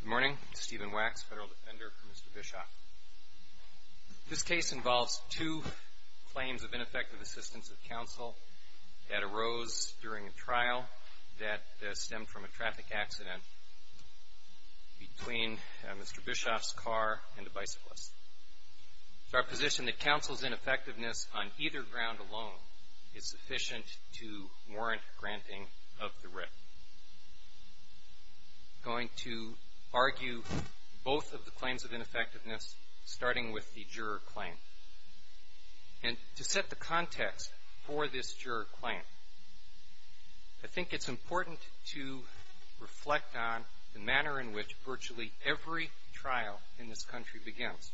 Good morning, Stephen Wax, Federal Defender for Mr. Bischoff. This case involves two claims of ineffective assistance of counsel that arose during a trial that stemmed from a traffic accident between Mr. Bischoff's car and the bicyclist. It's our position that counsel's ineffectiveness on either ground alone is sufficient to warrant granting of the writ. I'm going to argue both of the claims of ineffectiveness, starting with the juror claim. And to set the context for this juror claim, I think it's important to reflect on the manner in which virtually every trial in this country begins.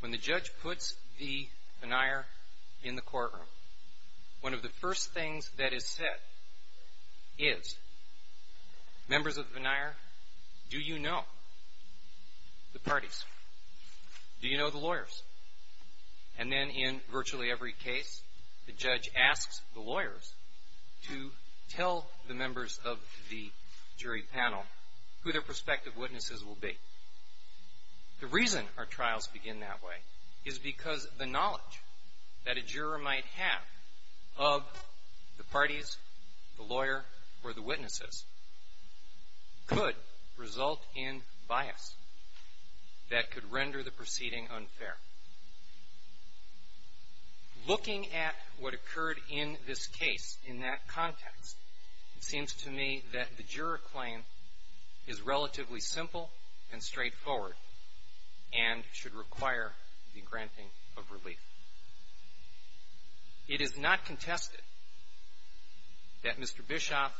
When the judge puts the case together, one of the first things that is said is, members of the veneer, do you know the parties? Do you know the lawyers? And then in virtually every case, the judge asks the lawyers to tell the members of the jury panel who their prospective witnesses will be. The reason our trials begin that way is because the knowledge that a juror might have of the parties, the lawyer, or the witnesses, could result in bias that could render the proceeding unfair. Looking at what occurred in this case, in that context, it seems to me that the juror claim is relatively simple and straightforward and should require the granting of relief. It is not contested that Mr. Bischoff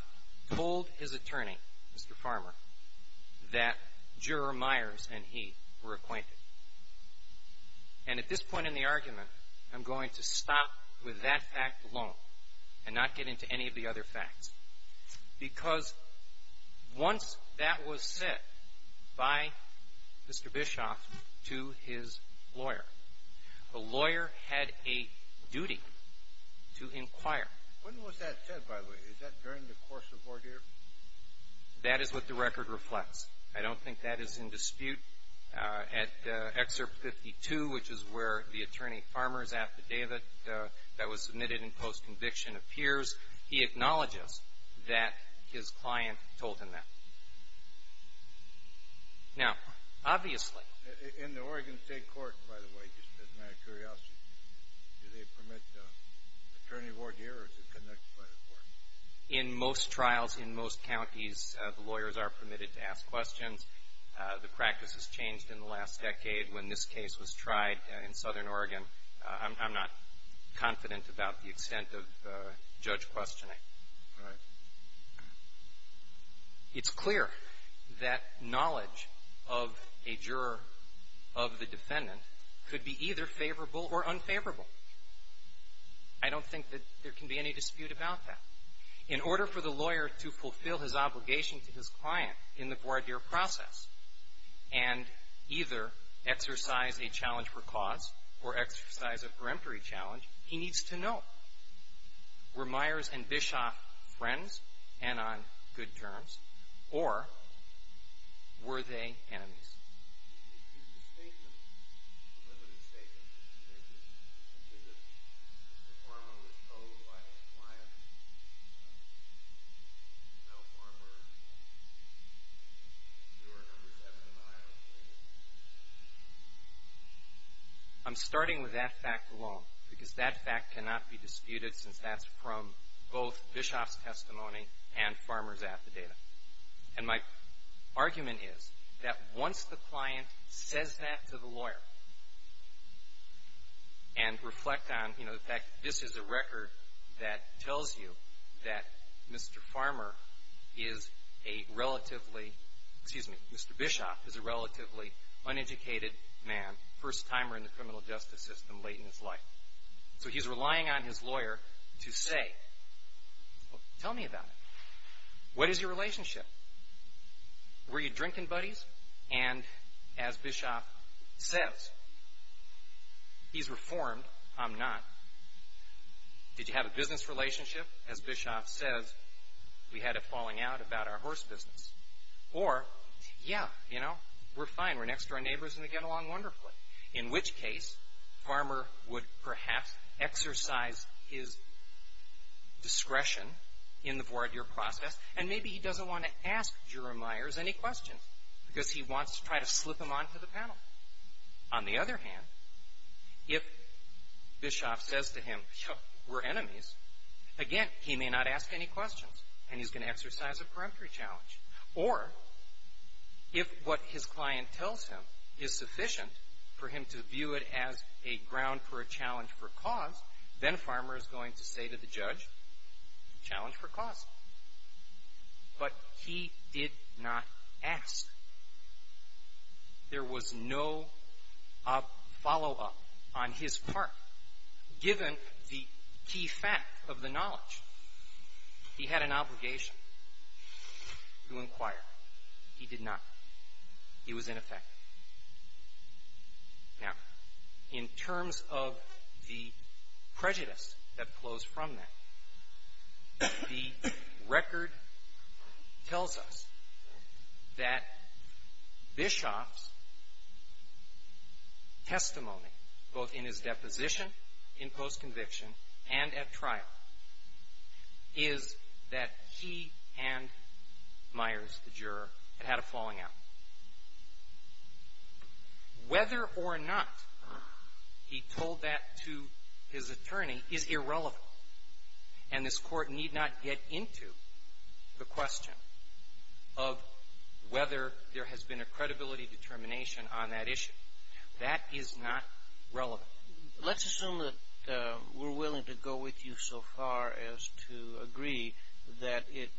told his attorney, Mr. Farmer, that juror Meyers and he were acquainted. And at this point in the argument, I'm going to stop with that fact alone and not get into any of the other facts. Because once that was said by Mr. Bischoff to his lawyer, the lawyer had a duty to inquire. When was that said, by the way? Is that during the course of ordeal? That is what the record reflects. I don't think that is in dispute. At Excerpt 52, which is where the attorney Farmer's affidavit that was submitted in post-conviction appears, he acknowledges that his client told him that. Now, obviously... In the Oregon State Court, by the way, just as a matter of curiosity, do they permit the attorney of order here, or is it conducted by the court? In most trials in most counties, the lawyers are permitted to ask questions. The practice has changed in the last decade. When this case was tried in Southern It's clear that knowledge of a juror of the defendant could be either favorable or unfavorable. I don't think that there can be any dispute about that. In order for the lawyer to fulfill his obligation to his client in the voir dire process and either exercise a challenge for cause or exercise a peremptory challenge, he needs to know, were Myers and Bischoff friends and on good terms, or were they enemies? I'm starting with that fact alone, because that fact cannot be disputed since that's from both Bischoff's testimony and Farmer's affidavit. And my argument is that once the client says that to the lawyer and reflect on, you know, that this is a record that tells you that Mr. Farmer is a relatively, excuse me, Mr. Bischoff is a relatively uneducated man, first timer in the criminal justice system late in his life. So he's relying on his lawyer to say, well, tell me about it. What is your relationship? Were you drinking buddies? And as Bischoff says, he's reformed, I'm not. Did you have a business relationship? As Bischoff says, we had a falling out about our horse business. Or, yeah, you know, we're fine, we're next to our neighbors and they get along wonderfully. In which case, Farmer would perhaps exercise his discretion in the voir dire process, and maybe he doesn't want to ask Jura Meyers any questions, because he wants to try to slip them onto the panel. On the other hand, if Bischoff says to him, we're enemies, again, he may not ask any questions, and he's going to exercise a peremptory challenge. Or, if what his client tells him is sufficient for him to lay ground for a challenge for cause, then Farmer is going to say to the judge, challenge for cause. But he did not ask. There was no follow-up on his part, given the key fact of the knowledge. He had an obligation to inquire. He did not. He was ineffective. Now, in terms of the prejudice that flows from that, the record tells us that Bischoff's testimony, both in his deposition, in post-conviction, and at trial, is that he and Meyers, the juror, had had a falling out. Whether or not he told that to his attorney is irrelevant, and this Court need not get into the question of whether there has been a credibility determination on that issue. That is not relevant. Well, let's assume that we're willing to go with you so far as to agree that it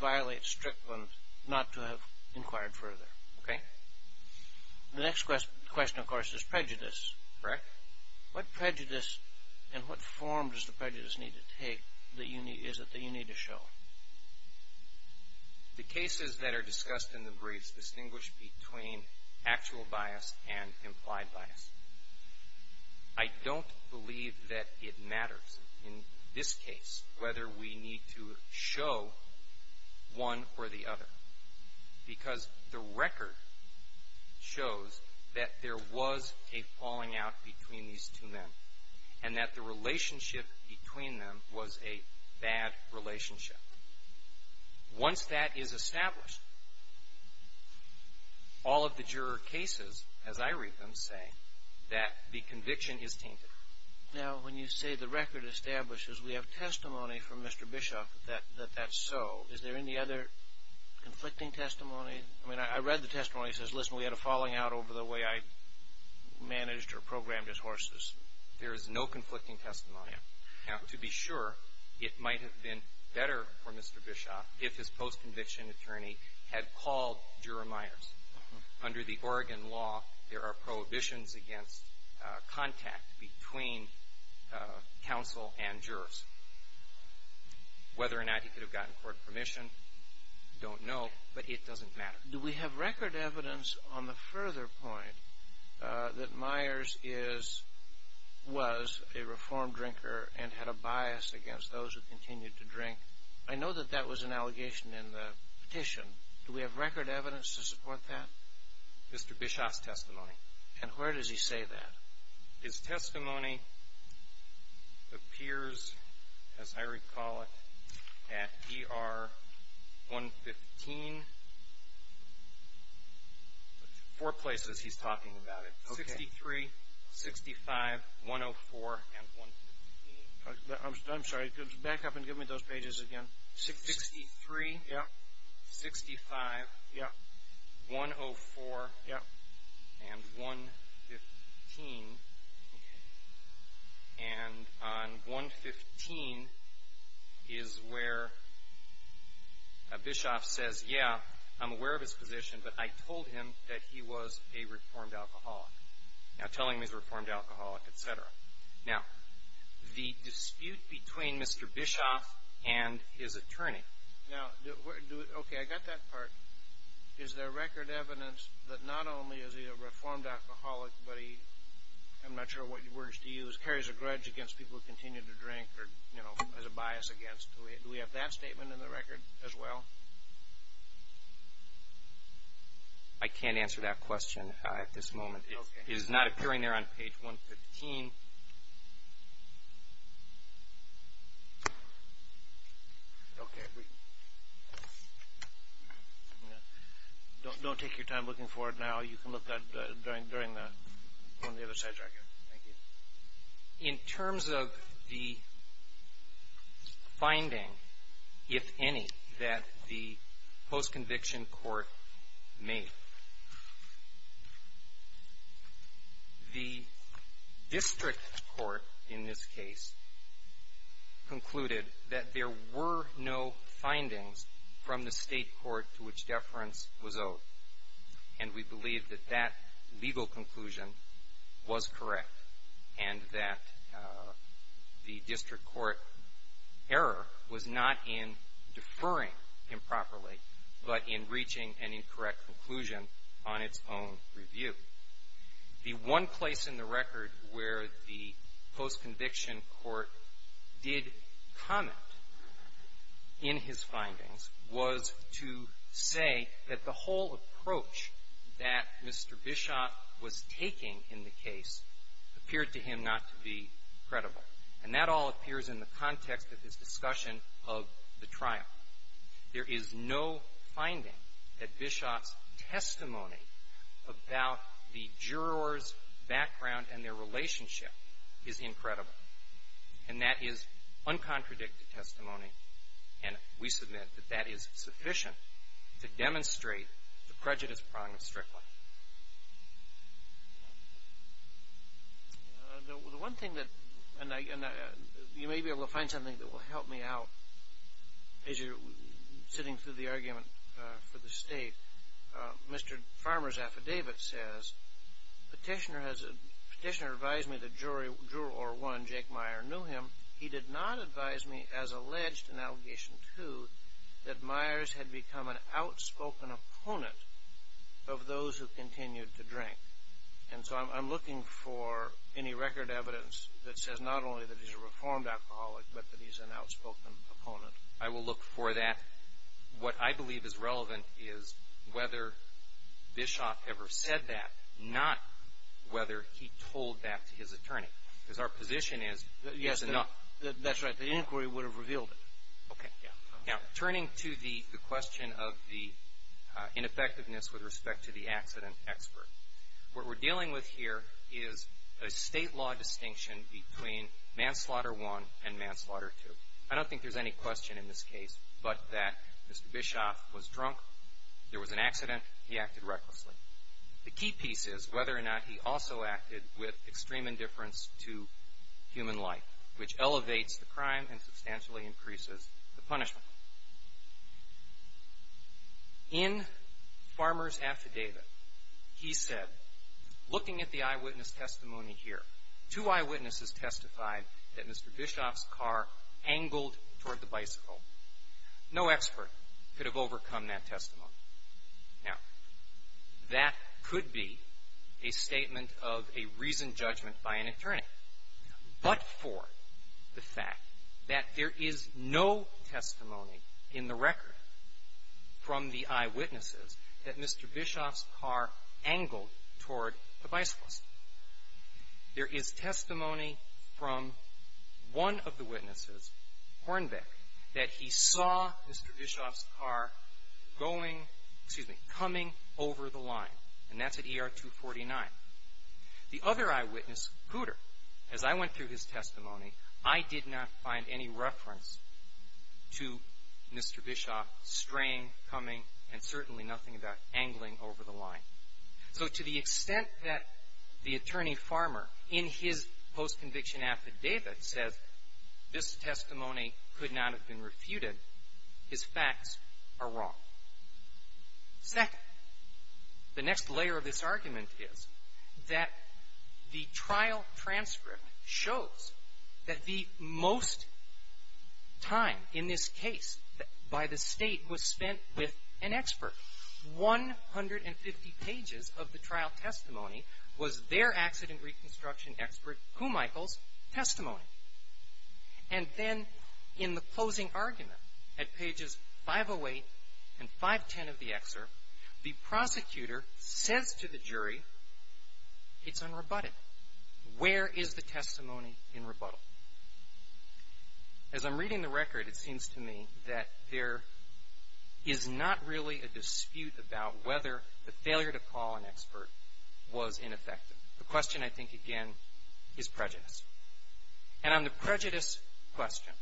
violates Strickland not to have inquired further. Okay. The next question, of course, is prejudice. Correct. What prejudice, and what form does the prejudice need to take, is it that you need to show? The cases that are discussed in the briefs distinguish between actual bias and implied bias. I don't believe that it matters in this case whether we need to show one or the other, because the record shows that there was a falling out between these two men, and that the relationship between them was a bad relationship. Once that is established, all of the juror cases, as I read them, say that the conviction is tainted. Now, when you say the record establishes we have testimony from Mr. Bischoff that that's so, is there any other conflicting testimony? I mean, I read the testimony that says, listen, we had a falling out over the way I managed or programmed his horses. There is no conflicting testimony. Now, to be sure, it might have been better for Mr. Bischoff if his post-conviction attorney had called Juror Myers. Under the Oregon law, there are prohibitions against contact between counsel and jurors. Whether or not he could have gotten court permission, I don't know, but it doesn't matter. Do we have record evidence on the further point that Myers was a reformed drinker and had a bias against those who continued to drink? I know that that was an allegation in the petition. Do we have record evidence to support that? Mr. Bischoff's testimony. And where does he say that? His testimony appears, as I recall it, at ER 115. Four places he's talking about it. Okay. 63, 65, 104, and 115. I'm sorry. Could you back up and give me those pages again? 63. Yep. 65. Yep. 104. Yep. And 115. Okay. And on 115 is where Bischoff says, yeah, I'm aware of his position, but I told him that he was a reformed alcoholic. Now, telling him he's a reformed alcoholic, et cetera. Now, the dispute between Mr. Bischoff and his attorney. Okay, I got that part. Is there record evidence that not only is he a reformed alcoholic, but he, I'm not sure what words to use, carries a grudge against people who continue to drink or has a bias against? Do we have that statement in the record as well? I can't answer that question at this moment. It is not appearing there on page 115. Okay. Don't take your time looking for it now. You can look at it during the other side record. Thank you. In terms of the finding, if any, that the post-conviction court made, the district court, in this case, concluded that there were no findings from the state court to which deference was owed. And we believe that that legal conclusion was correct and that the district court error was not in deferring improperly, but in reaching an incorrect conclusion on its own review. The one place in the record where the post-conviction court did comment in his findings was to say that the whole approach that Mr. Bischoff was taking in the case appeared to him not to be credible. And that all appears in the context of his discussion of the trial. There is no finding that Bischoff's testimony about the jurors' background and their relationship is incredible. And that is uncontradicted testimony, and we submit that that is sufficient to demonstrate the prejudice problem strictly. The one thing that, and you may be able to find something that will help me out as you're sitting through the argument for the state, Mr. Farmer's affidavit says, Petitioner advised me that Juror 1, Jake Meyer, knew him. He did not advise me, as alleged in Allegation 2, that Myers had become an outspoken opponent of those who continued to drink. And so I'm looking for any record evidence that says not only that he's a reformed alcoholic, but that he's an outspoken opponent. I will look for that. What I believe is relevant is whether Bischoff ever said that, not whether he told that to his attorney, because our position is it's enough. Yes, that's right. The inquiry would have revealed it. Okay. Now, turning to the question of the ineffectiveness with respect to the accident expert, what we're dealing with here is a state law distinction between Manslaughter 1 and Manslaughter 2. I don't think there's any question in this case but that Mr. Bischoff was drunk, there was an accident, he acted recklessly. The key piece is whether or not he also acted with extreme indifference to human life, which elevates the crime and substantially increases the punishment. In Farmer's affidavit, he said, looking at the eyewitness testimony here, two eyewitnesses testified that Mr. Bischoff's car angled toward the bicycle. No expert could have overcome that testimony. Now, that could be a statement of a reasoned judgment by an attorney. But for the fact that there is no testimony in the record from the eyewitnesses that Mr. Bischoff's car angled toward the bicycle. There is testimony from one of the witnesses, Hornbeck, that he saw Mr. Bischoff's car going, excuse me, coming over the line, and that's at ER 249. The other eyewitness, Cooter, as I went through his testimony, I did not find any reference to Mr. Bischoff straying, coming, and certainly nothing about angling over the line. So to the extent that the attorney, Farmer, in his post-conviction affidavit, says this testimony could not have been refuted, his facts are wrong. Second, the next layer of this argument is that the trial transcript shows that the most time in this case by the State was spent with an expert. One hundred and fifty pages of the trial testimony was their accident reconstruction expert, Kumichel's, testimony. And then in the closing argument, at pages 508 and 510 of the excerpt, the prosecutor says to the jury, it's unrebutted. Where is the testimony in rebuttal? As I'm reading the record, it seems to me that there is not really a dispute about whether the failure to call an expert was ineffective. The question, I think, again, is prejudice. And on the prejudice question,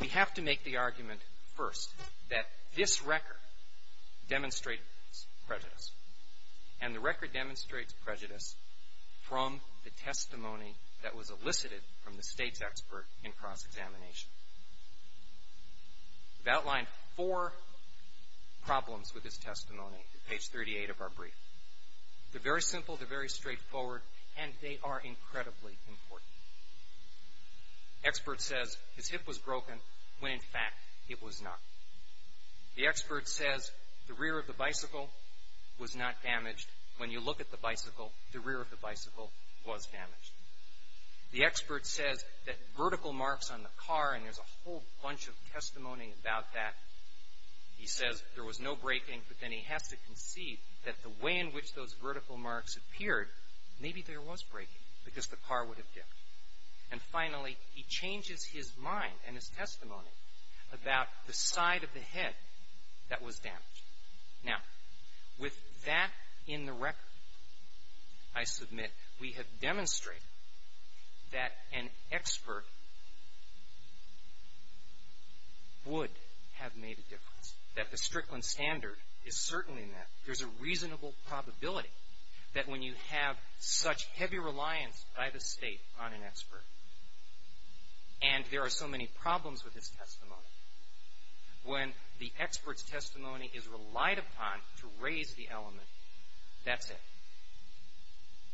we have to make the argument first that this record demonstrates prejudice, and the record demonstrates prejudice from the testimony that was elicited from the State's expert in cross-examination. We've outlined four problems with this testimony, page 38 of our brief. They're very simple, they're very straightforward, and they are incredibly important. The expert says his hip was broken when, in fact, it was not. The expert says the rear of the bicycle was not damaged. When you look at the bicycle, the rear of the bicycle was damaged. The expert says that vertical marks on the car, and there's a whole bunch of testimony about that. He says there was no breaking, but then he has to concede that the way in which those vertical marks appeared, maybe there was breaking because the car would have dipped. And finally, he changes his mind and his testimony about the side of the head that was damaged. Now, with that in the record, I submit, we have demonstrated that an expert would have made a difference, that the Strickland Standard is certainly in that. There's a reasonable probability that when you have such heavy reliance by the State on an expert, and there are so many problems with this testimony, when the expert's testimony is relied upon to raise the element, that's it.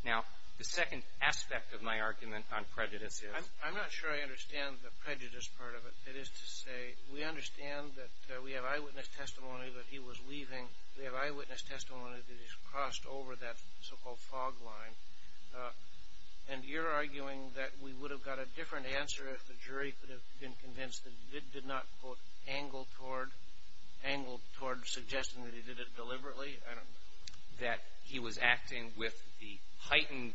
Now, the second aspect of my argument on prejudice is... I'm not sure I understand the prejudice part of it. That is to say, we understand that we have eyewitness testimony that he was weaving. We have eyewitness testimony that he's crossed over that so-called fog line. And you're arguing that we would have got a different answer if the jury could have been convinced that he did not, quote, angle toward suggesting that he did it deliberately, that he was acting with the heightened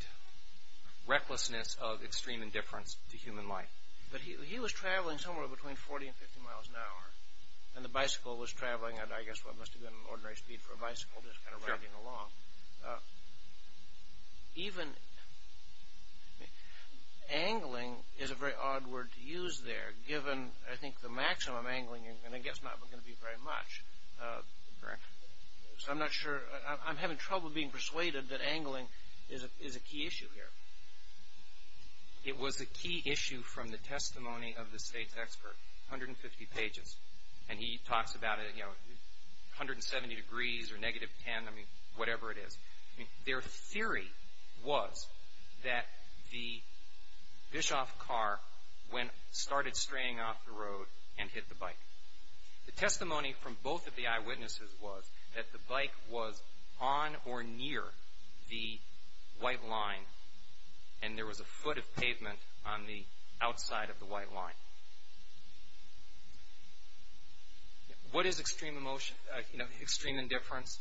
recklessness of extreme indifference to human life. But he was traveling somewhere between 40 and 50 miles an hour, and the bicycle was traveling at, I guess, what must have been an ordinary speed for a bicycle, just kind of riding along. Even angling is a very odd word to use there, given, I think, the maximum angling, and I guess not going to be very much. So I'm not sure. I'm having trouble being persuaded that angling is a key issue here. It was a key issue from the testimony of the State's expert, 150 pages. And he talks about, you know, 170 degrees or negative 10, I mean, whatever it is. Their theory was that the Bischoff car started straying off the road and hit the bike. The testimony from both of the eyewitnesses was that the bike was on or near the white line, and there was a foot of pavement on the outside of the white line. What is extreme indifference?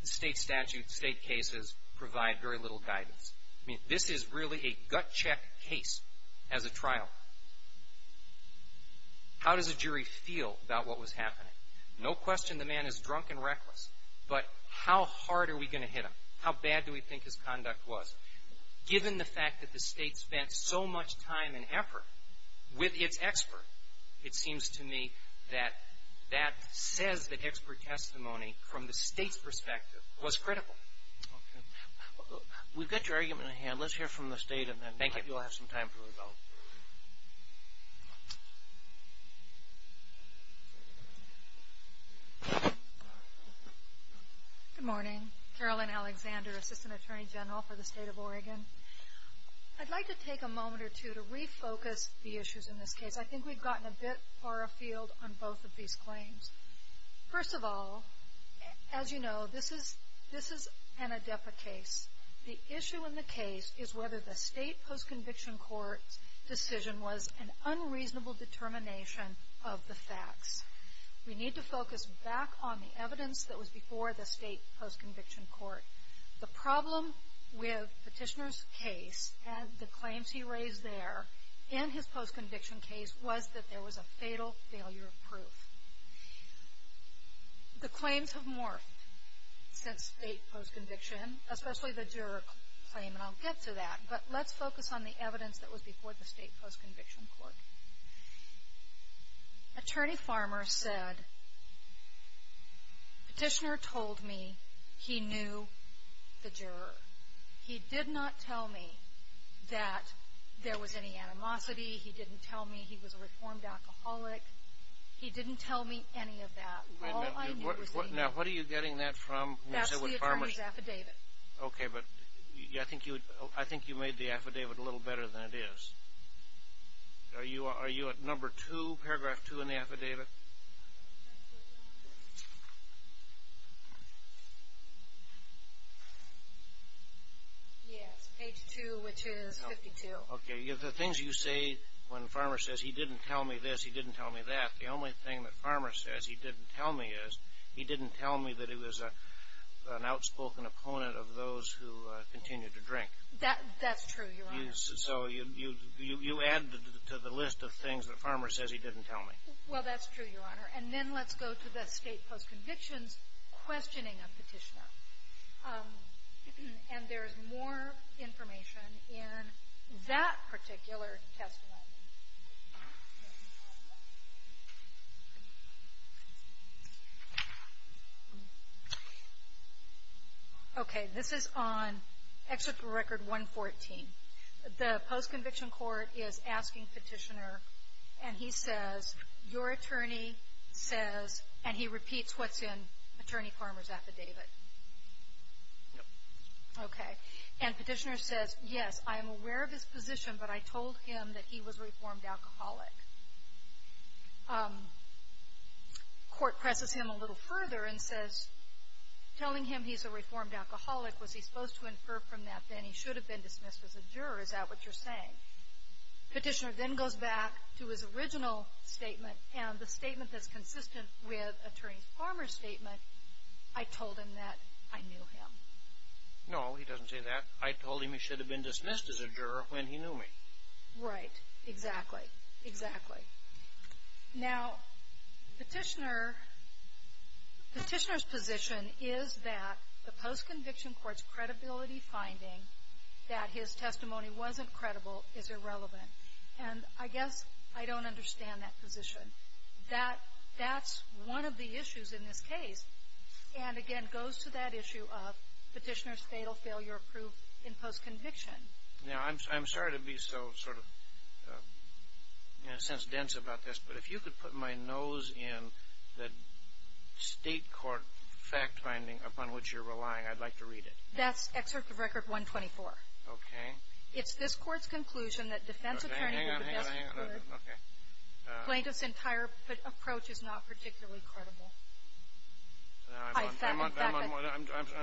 The State statute, the State cases provide very little guidance. I mean, this is really a gut-check case as a trial. How does a jury feel about what was happening? No question the man is drunk and reckless, but how hard are we going to hit him? How bad do we think his conduct was? Given the fact that the State spent so much time and effort with its expert, it seems to me that that says that expert testimony from the State's perspective was critical. Okay. We've got your argument on hand. Let's hear from the State, and then maybe we'll have some time for a vote. Good morning. Carolyn Alexander, Assistant Attorney General for the State of Oregon. I'd like to take a moment or two to refocus the issues in this case. I think we've gotten a bit far afield on both of these claims. First of all, as you know, this is an ADEPA case. The issue in the case is whether the State post-conviction court's decision was an unreasonable determination of the facts. We need to focus back on the evidence that was before the State post-conviction court. The problem with Petitioner's case and the claims he raised there in his post-conviction case was that there was a fatal failure of proof. The claims have morphed since State post-conviction, especially the juror claim, and I'll get to that, but let's focus on the evidence that was before the State post-conviction court. Attorney Farmer said, Petitioner told me he knew the juror. He did not tell me that there was any animosity. He didn't tell me he was a reformed alcoholic. He didn't tell me any of that. All I knew was he knew. Now, what are you getting that from? That's the attorney's affidavit. Okay, but I think you made the affidavit a little better than it is. Are you at number two, paragraph two in the affidavit? Yes, page two, which is 52. Okay, the things you say when Farmer says he didn't tell me this, he didn't tell me that, the only thing that Farmer says he didn't tell me is he didn't tell me that he was an outspoken opponent of those who continued to drink. That's true, Your Honor. So you add to the list of things that Farmer says he didn't tell me. Well, that's true, Your Honor. And then let's go to the State post-conviction's questioning of Petitioner. And there's more information in that particular testimony. Okay. This is on Excerpt from Record 114. The post-conviction court is asking Petitioner, and he says, your attorney says, and he repeats what's in Attorney Farmer's affidavit. Okay. And Petitioner says, yes, I am aware of his position, but I told him that he was a reformed alcoholic. Court presses him a little further and says, telling him he's a reformed alcoholic, was he supposed to infer from that then he should have been dismissed as a juror? Is that what you're saying? Petitioner then goes back to his original statement, and the statement that's consistent with Attorney Farmer's statement, I told him that I knew him. No, he doesn't say that. I told him he should have been dismissed as a juror when he knew me. Right. Exactly. Exactly. Now, Petitioner's position is that the post-conviction court's credibility finding that his testimony wasn't credible is irrelevant. And I guess I don't understand that position. That's one of the issues in this case. And, again, goes to that issue of Petitioner's fatal failure of proof in post-conviction. Now, I'm sorry to be so sort of, in a sense, dense about this, but if you could put my nose in the state court fact-finding upon which you're relying, I'd like to read it. That's Excerpt of Record 124. Okay. It's this Court's conclusion that defense attorneys are the best. Hang on, hang on, hang on. Plaintiff's entire approach is not particularly credible. I'm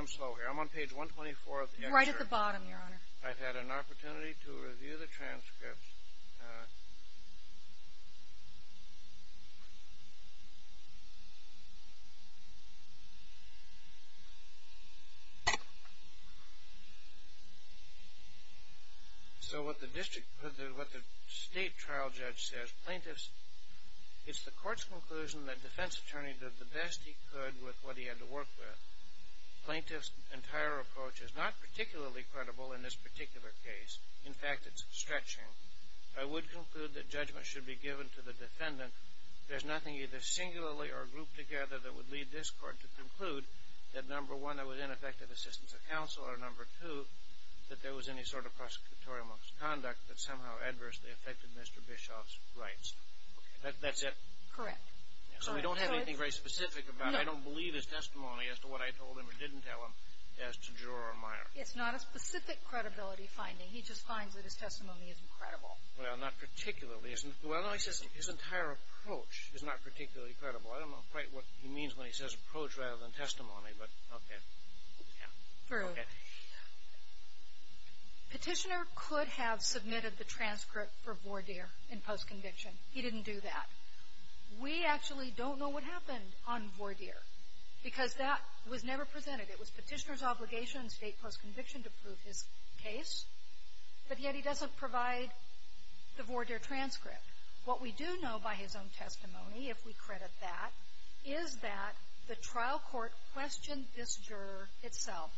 slow here. I'm on page 124 of the excerpt. Right at the bottom, Your Honor. I've had an opportunity to review the transcripts. So what the state trial judge says, Plaintiff's, it's the Court's conclusion that defense attorney did the best he could with what he had to work with. Plaintiff's entire approach is not particularly credible in this particular case. In fact, it's stretching. I would conclude that judgment should be given to the defendant. There's nothing either singularly or grouped together that would lead this Court to conclude that, number one, there was ineffective assistance of counsel or, number two, that there was any sort of prosecutorial misconduct that somehow adversely affected Mr. Bischoff's rights. That's it? Correct. So we don't have anything very specific about it. I don't believe his testimony as to what I told him or didn't tell him as to juror or minor. It's not a specific credibility finding. He just finds that his testimony isn't credible. Well, not particularly. Well, no, he says his entire approach is not particularly credible. I don't know quite what he means when he says approach rather than testimony, but okay. Yeah. Through. Okay. Petitioner could have submitted the transcript for voir dire in postconviction. He didn't do that. We actually don't know what happened on voir dire because that was never presented. It was Petitioner's obligation in state postconviction to prove his case, but yet he doesn't provide the voir dire transcript. What we do know by his own testimony, if we credit that, is that the trial court questioned this juror itself,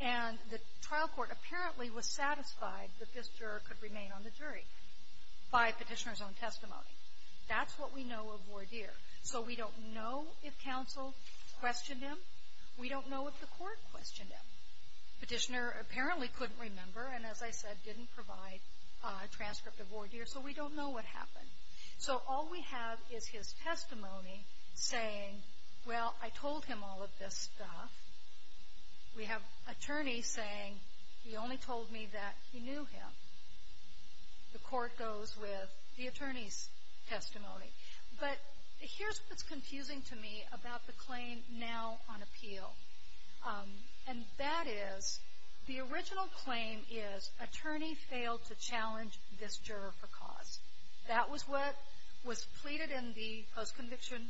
and the trial court apparently was satisfied that this juror could remain on the jury by Petitioner's own testimony. That's what we know of voir dire. So we don't know if counsel questioned him. We don't know if the court questioned him. Petitioner apparently couldn't remember and, as I said, didn't provide a transcript of voir dire, so we don't know what happened. So all we have is his testimony saying, well, I told him all of this stuff. We have attorneys saying he only told me that he knew him. The court goes with the attorney's testimony. But here's what's confusing to me about the claim now on appeal, and that is the original claim is attorney failed to challenge this juror for cause. That was what was pleaded in the postconviction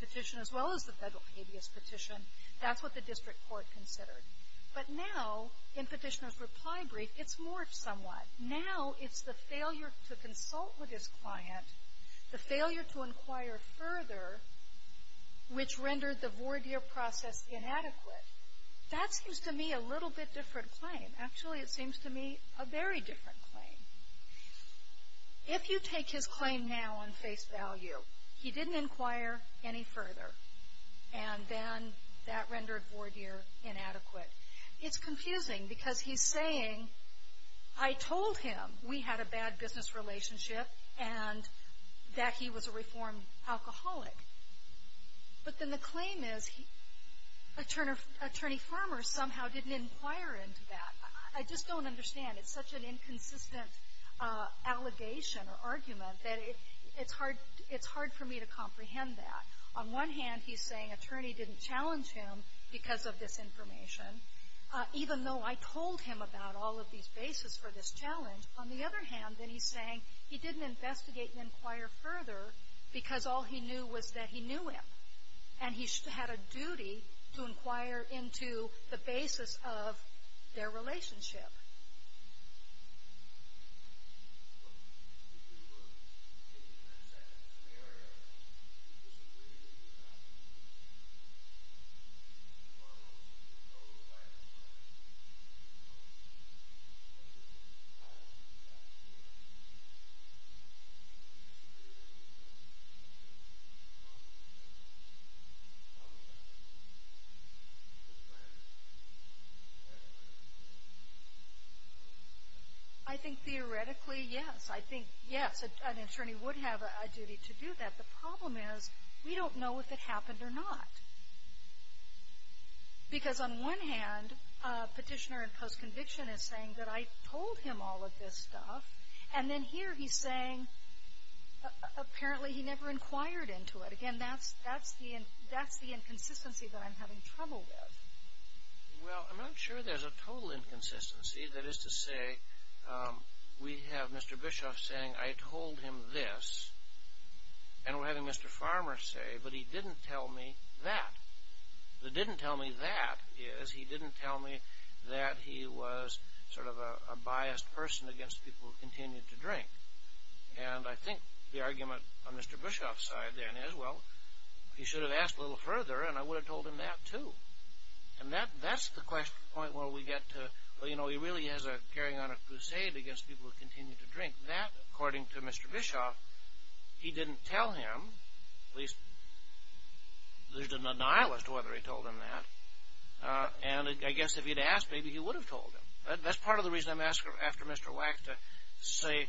petition as well as the federal habeas petition. That's what the district court considered. But now, in Petitioner's reply brief, it's morphed somewhat. Now it's the failure to consult with his client, the failure to inquire further, which rendered the voir dire process inadequate. That seems to me a little bit different claim. Actually, it seems to me a very different claim. If you take his claim now on face value, he didn't inquire any further, and then that rendered voir dire inadequate. It's confusing because he's saying, I told him we had a bad business relationship and that he was a reformed alcoholic. But then the claim is attorney Farmer somehow didn't inquire into that. I just don't understand. It's such an inconsistent allegation or argument that it's hard for me to comprehend that. On one hand, he's saying attorney didn't challenge him because of this information, even though I told him about all of these bases for this challenge. On the other hand, then he's saying he didn't investigate and inquire further because all he knew was that he knew him, and he had a duty to inquire into the basis of their relationship. Yes, sir. I think theoretically, yes. I think, yes, an attorney would have a duty to do that. The problem is we don't know if it happened or not. Because on one hand, Petitioner in post-conviction is saying that I told him all of this stuff, and then here he's saying apparently he never inquired into it. Again, that's the inconsistency that I'm having trouble with. Well, I'm not sure there's a total inconsistency. That is to say, we have Mr. Bischoff saying I told him this, and we're having Mr. Farmer say, but he didn't tell me that. The didn't tell me that is he didn't tell me that he was sort of a biased person against people who continued to drink. And I think the argument on Mr. Bischoff's side then is, well, he should have asked a little further, and I would have told him that, too. And that's the question, the point where we get to, well, you know, he really is carrying on a crusade against people who continue to drink. That, according to Mr. Bischoff, he didn't tell him, at least there's a denial as to whether he told him that. And I guess if he'd asked, maybe he would have told him. That's part of the reason I'm asking after Mr. Wax to say,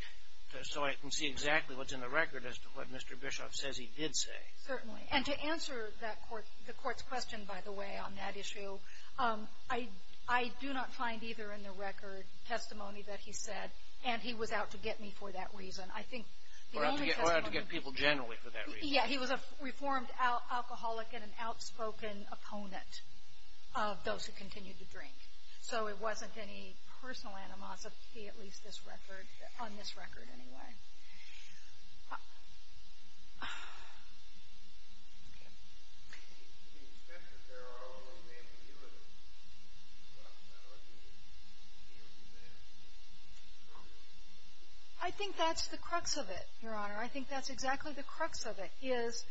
so I can see exactly what's in the record as to what Mr. Bischoff says he did say. Certainly. And to answer that court's question, by the way, on that issue, I do not find either in the record testimony that he said, and he was out to get me for that reason. I think the only testimony he said was that he was out to get people generally for that reason. Yeah, he was a reformed alcoholic and an outspoken opponent of those who continued to drink. So it wasn't any personal animosity, at least this record, on this record, anyway. I think that's the crux of it, Your Honor. I think that's exactly the crux of it, is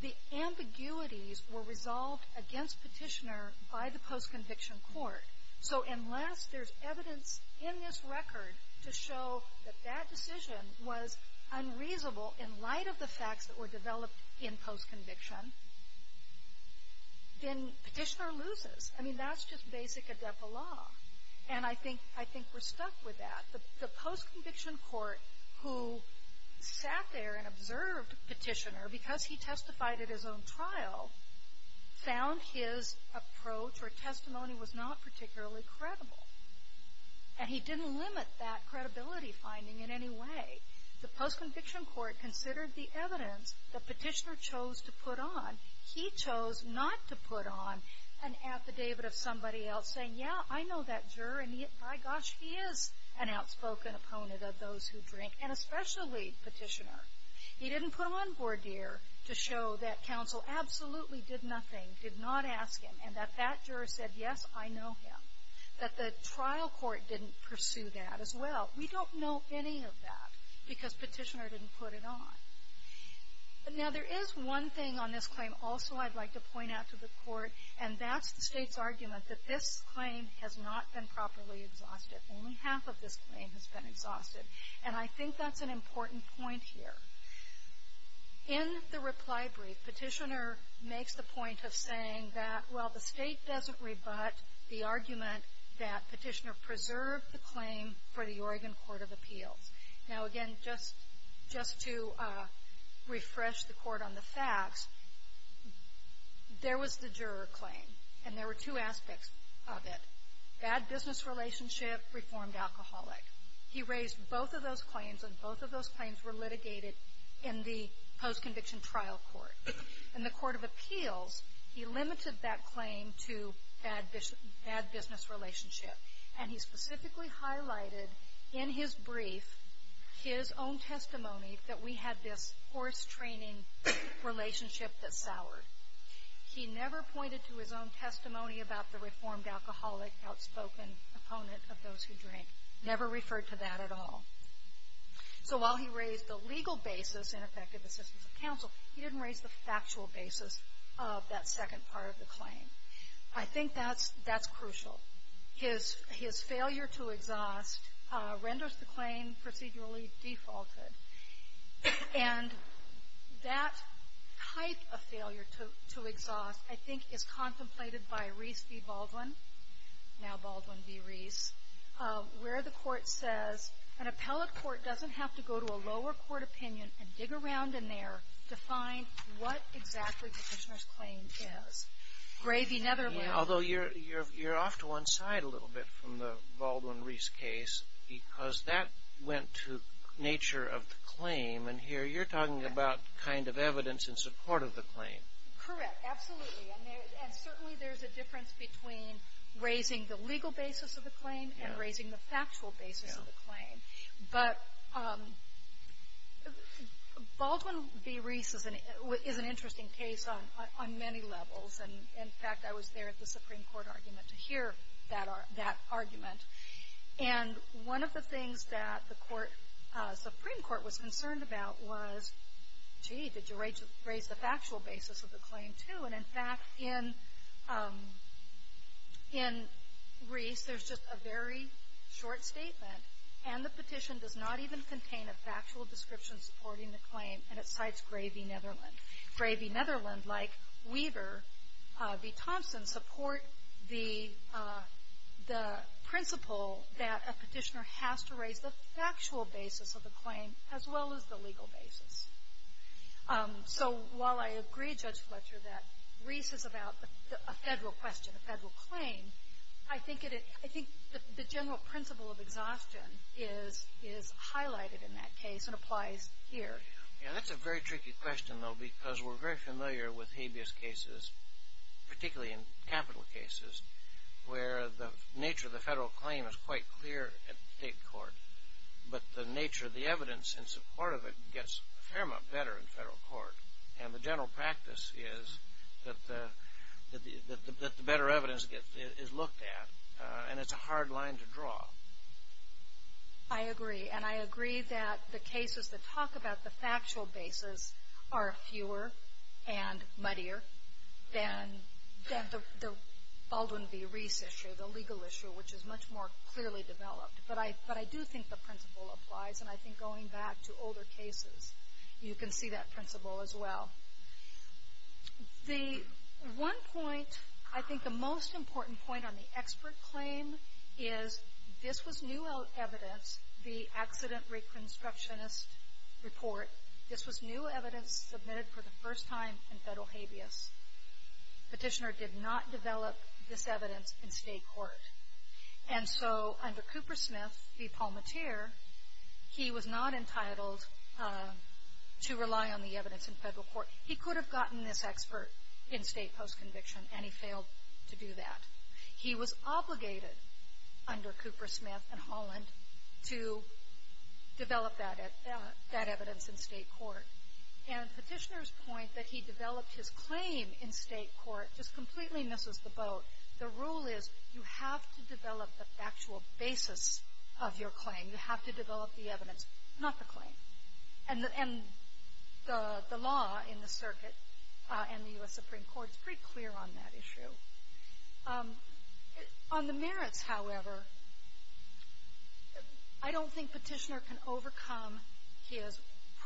the ambiguities were resolved against Petitioner by the post-conviction court. So unless there's evidence in this record to show that that decision was unreasonable in light of the facts that were developed in post-conviction, then Petitioner loses. I mean, that's just basic adepto law. And I think we're stuck with that. The post-conviction court, who sat there and observed Petitioner, because he testified at his own trial, found his approach or testimony was not particularly credible. And he didn't limit that credibility finding in any way. The post-conviction court considered the evidence that Petitioner chose to put on. He chose not to put on an affidavit of somebody else saying, yeah, I know that juror, and by gosh, he is an outspoken opponent of those who drink, and especially Petitioner. He didn't put on Bourdier to show that counsel absolutely did nothing, did not ask him, and that that juror said, yes, I know him. That the trial court didn't pursue that as well. We don't know any of that because Petitioner didn't put it on. Now, there is one thing on this claim also I'd like to point out to the court, and that's the State's argument that this claim has not been properly exhausted. Only half of this claim has been exhausted. And I think that's an important point here. In the reply brief, Petitioner makes the point of saying that, well, the State doesn't rebut the argument that Petitioner preserved the claim for the Oregon Court of Appeals. Now, again, just to refresh the court on the facts, there was the juror claim, and there were two aspects of it. Bad business relationship, reformed alcoholic. He raised both of those claims, and both of those claims were litigated in the post-conviction trial court. In the Court of Appeals, he limited that claim to bad business relationship. And he specifically highlighted in his brief his own testimony that we had this forced training relationship that soured. He never pointed to his own testimony about the reformed alcoholic outspoken opponent of those who drink. Never referred to that at all. So while he raised the legal basis in effective assistance of counsel, he didn't raise the factual basis of that second part of the claim. I think that's crucial. His failure to exhaust renders the claim procedurally defaulted. And that type of failure to exhaust, I think, is contemplated by Reese v. Baldwin, now Baldwin v. Reese, where the court says an appellate court doesn't have to go to a lower court opinion and dig around in there to find what exactly Petitioner's claim is. Gray v. Netherland. Although you're off to one side a little bit from the Baldwin v. Reese case because that went to nature of the claim. And here you're talking about kind of evidence in support of the claim. Correct. Absolutely. And certainly there's a difference between raising the legal basis of the claim and raising the factual basis of the claim. But Baldwin v. Reese is an interesting case on many levels. And, in fact, I was there at the Supreme Court argument to hear that argument. And one of the things that the Supreme Court was concerned about was, gee, did you raise the factual basis of the claim, too? And, in fact, in Reese, there's just a very short statement, and the petition does not even contain a factual description supporting the claim, and it cites Gray v. Netherland. Gray v. Netherland, like Weaver v. Thompson, support the principle that a petitioner has to raise the factual basis of the claim as well as the legal basis. So while I agree, Judge Fletcher, that Reese is about a federal question, a federal claim, I think the general principle of exhaustion is highlighted in that case and applies here. Yeah, that's a very tricky question, though, because we're very familiar with habeas cases, particularly in capital cases, where the nature of the federal claim is quite clear at the state court, but the nature of the evidence in support of it gets a fair amount better in federal court. And the general practice is that the better evidence is looked at, and it's a hard line to draw. I agree. And I agree that the cases that talk about the factual basis are fewer and muddier than the Baldwin v. Reese issue, the legal issue, which is much more clearly developed. But I do think the principle applies, and I think going back to older cases, you can see that principle as well. The one point, I think the most important point on the expert claim is this was new evidence, the accident reconstructionist report. This was new evidence submitted for the first time in federal habeas. Petitioner did not develop this evidence in state court. And so under Cooper Smith v. Palmatier, he was not entitled to rely on the evidence in federal court. He could have gotten this expert in state post-conviction, and he failed to do that. He was obligated under Cooper Smith and Holland to develop that evidence in state court. And Petitioner's point that he developed his claim in state court just completely misses the boat. The rule is you have to develop the factual basis of your claim. You have to develop the evidence, not the claim. And the law in the circuit and the U.S. Supreme Court is pretty clear on that issue. On the merits, however, I don't think Petitioner can overcome his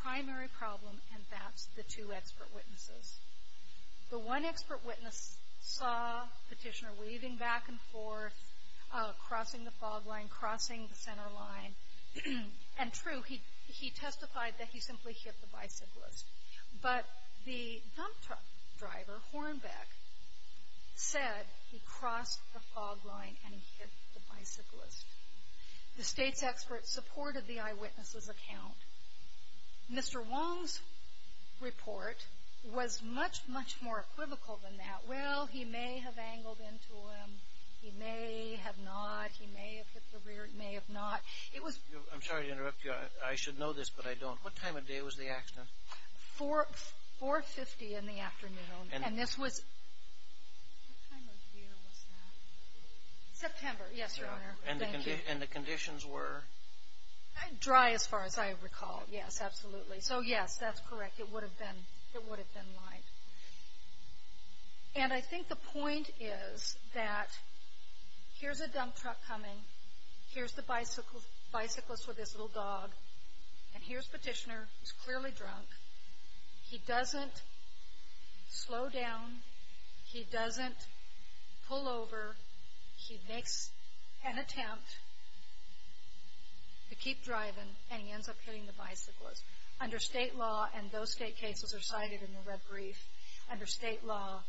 primary problem, and that's the two expert witnesses. The one expert witness saw Petitioner weaving back and forth, crossing the fog line, crossing the center line. And true, he testified that he simply hit the bicyclist. But the dump truck driver, Hornbeck, said he crossed the fog line and hit the bicyclist. The state's expert supported the eyewitness's account. Mr. Wong's report was much, much more equivocal than that. Well, he may have angled into him. He may have not. He may have hit the rear. He may have not. It was – I'm sorry to interrupt you. I should know this, but I don't. What time of day was the accident? 4.50 in the afternoon. And this was – What time of year was that? September. Yes, Your Honor. Thank you. And the conditions were? Dry, as far as I recall. Yes, absolutely. So, yes, that's correct. It would have been light. And I think the point is that here's a dump truck coming. Here's the bicyclist with his little dog. And here's Petitioner, who's clearly drunk. He doesn't slow down. He doesn't pull over. He makes an attempt to keep driving, and he ends up hitting the bicyclist. Under state law, and those state cases are cited in the red brief, under state law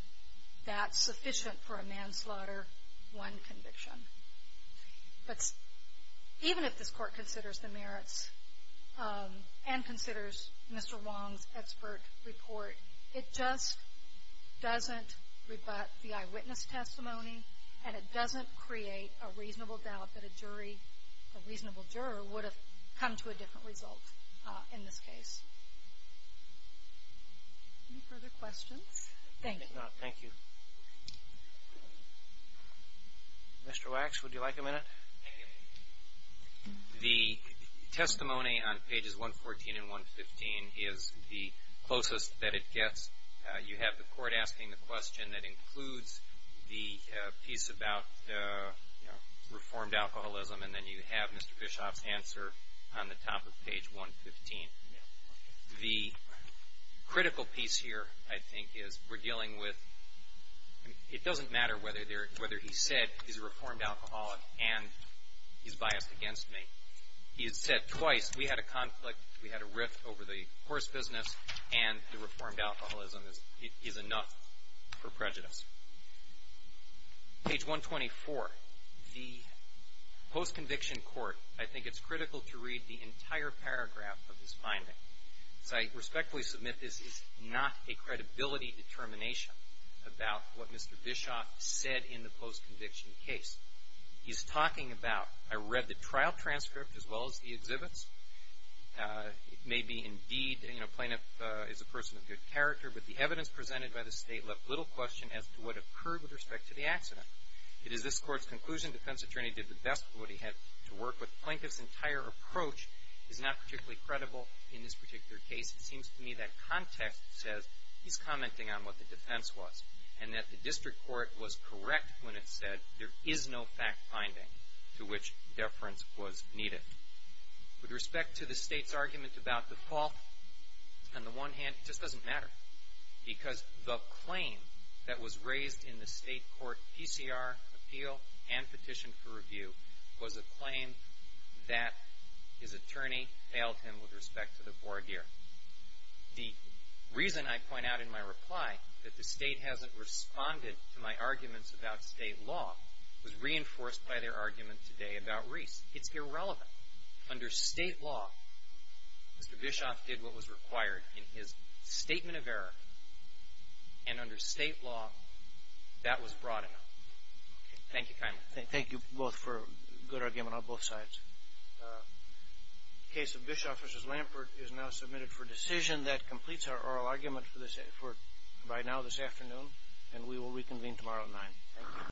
that's sufficient for a manslaughter, one conviction. But even if this Court considers the merits and considers Mr. Wong's expert report, it just doesn't rebut the eyewitness testimony, and it doesn't create a reasonable doubt that a jury, a reasonable juror, would have come to a different result in this case. Any further questions? Thank you. No, thank you. Mr. Wax, would you like a minute? Thank you. The testimony on pages 114 and 115 is the closest that it gets. You have the Court asking the question that includes the piece about, you know, reformed alcoholism, and then you have Mr. Bischoff's answer on the top of page 115. The critical piece here, I think, is we're dealing with, it doesn't matter whether he said he's a reformed alcoholic and he's biased against me. He has said twice, we had a conflict, we had a rift over the horse business, and the reformed alcoholism is enough for prejudice. Page 124, the post-conviction court, I think it's critical to read the entire paragraph of this finding. As I respectfully submit, this is not a credibility determination about what Mr. Bischoff said in the post-conviction case. He's talking about, I read the trial transcript as well as the exhibits. It may be indeed, you know, Plaintiff is a person of good character, but the evidence presented by the State left little question as to what occurred with respect to the accident. It is this Court's conclusion defense attorney did the best of what he had to work with. It's not particularly credible in this particular case. It seems to me that context says he's commenting on what the defense was and that the district court was correct when it said there is no fact-finding to which deference was needed. With respect to the State's argument about the fault, on the one hand, it just doesn't matter because the claim that was raised in the State court PCR appeal and petition for review was a claim that his attorney failed him with respect to the voir dire. The reason I point out in my reply that the State hasn't responded to my arguments about State law was reinforced by their argument today about Reese. It's irrelevant. Under State law, Mr. Bischoff did what was required in his statement of error, and under State law, that was broad enough. Thank you kindly. Thank you both for a good argument on both sides. The case of Bischoff v. Lampert is now submitted for decision. That completes our oral argument for right now this afternoon, and we will reconvene tomorrow at 9. Thank you.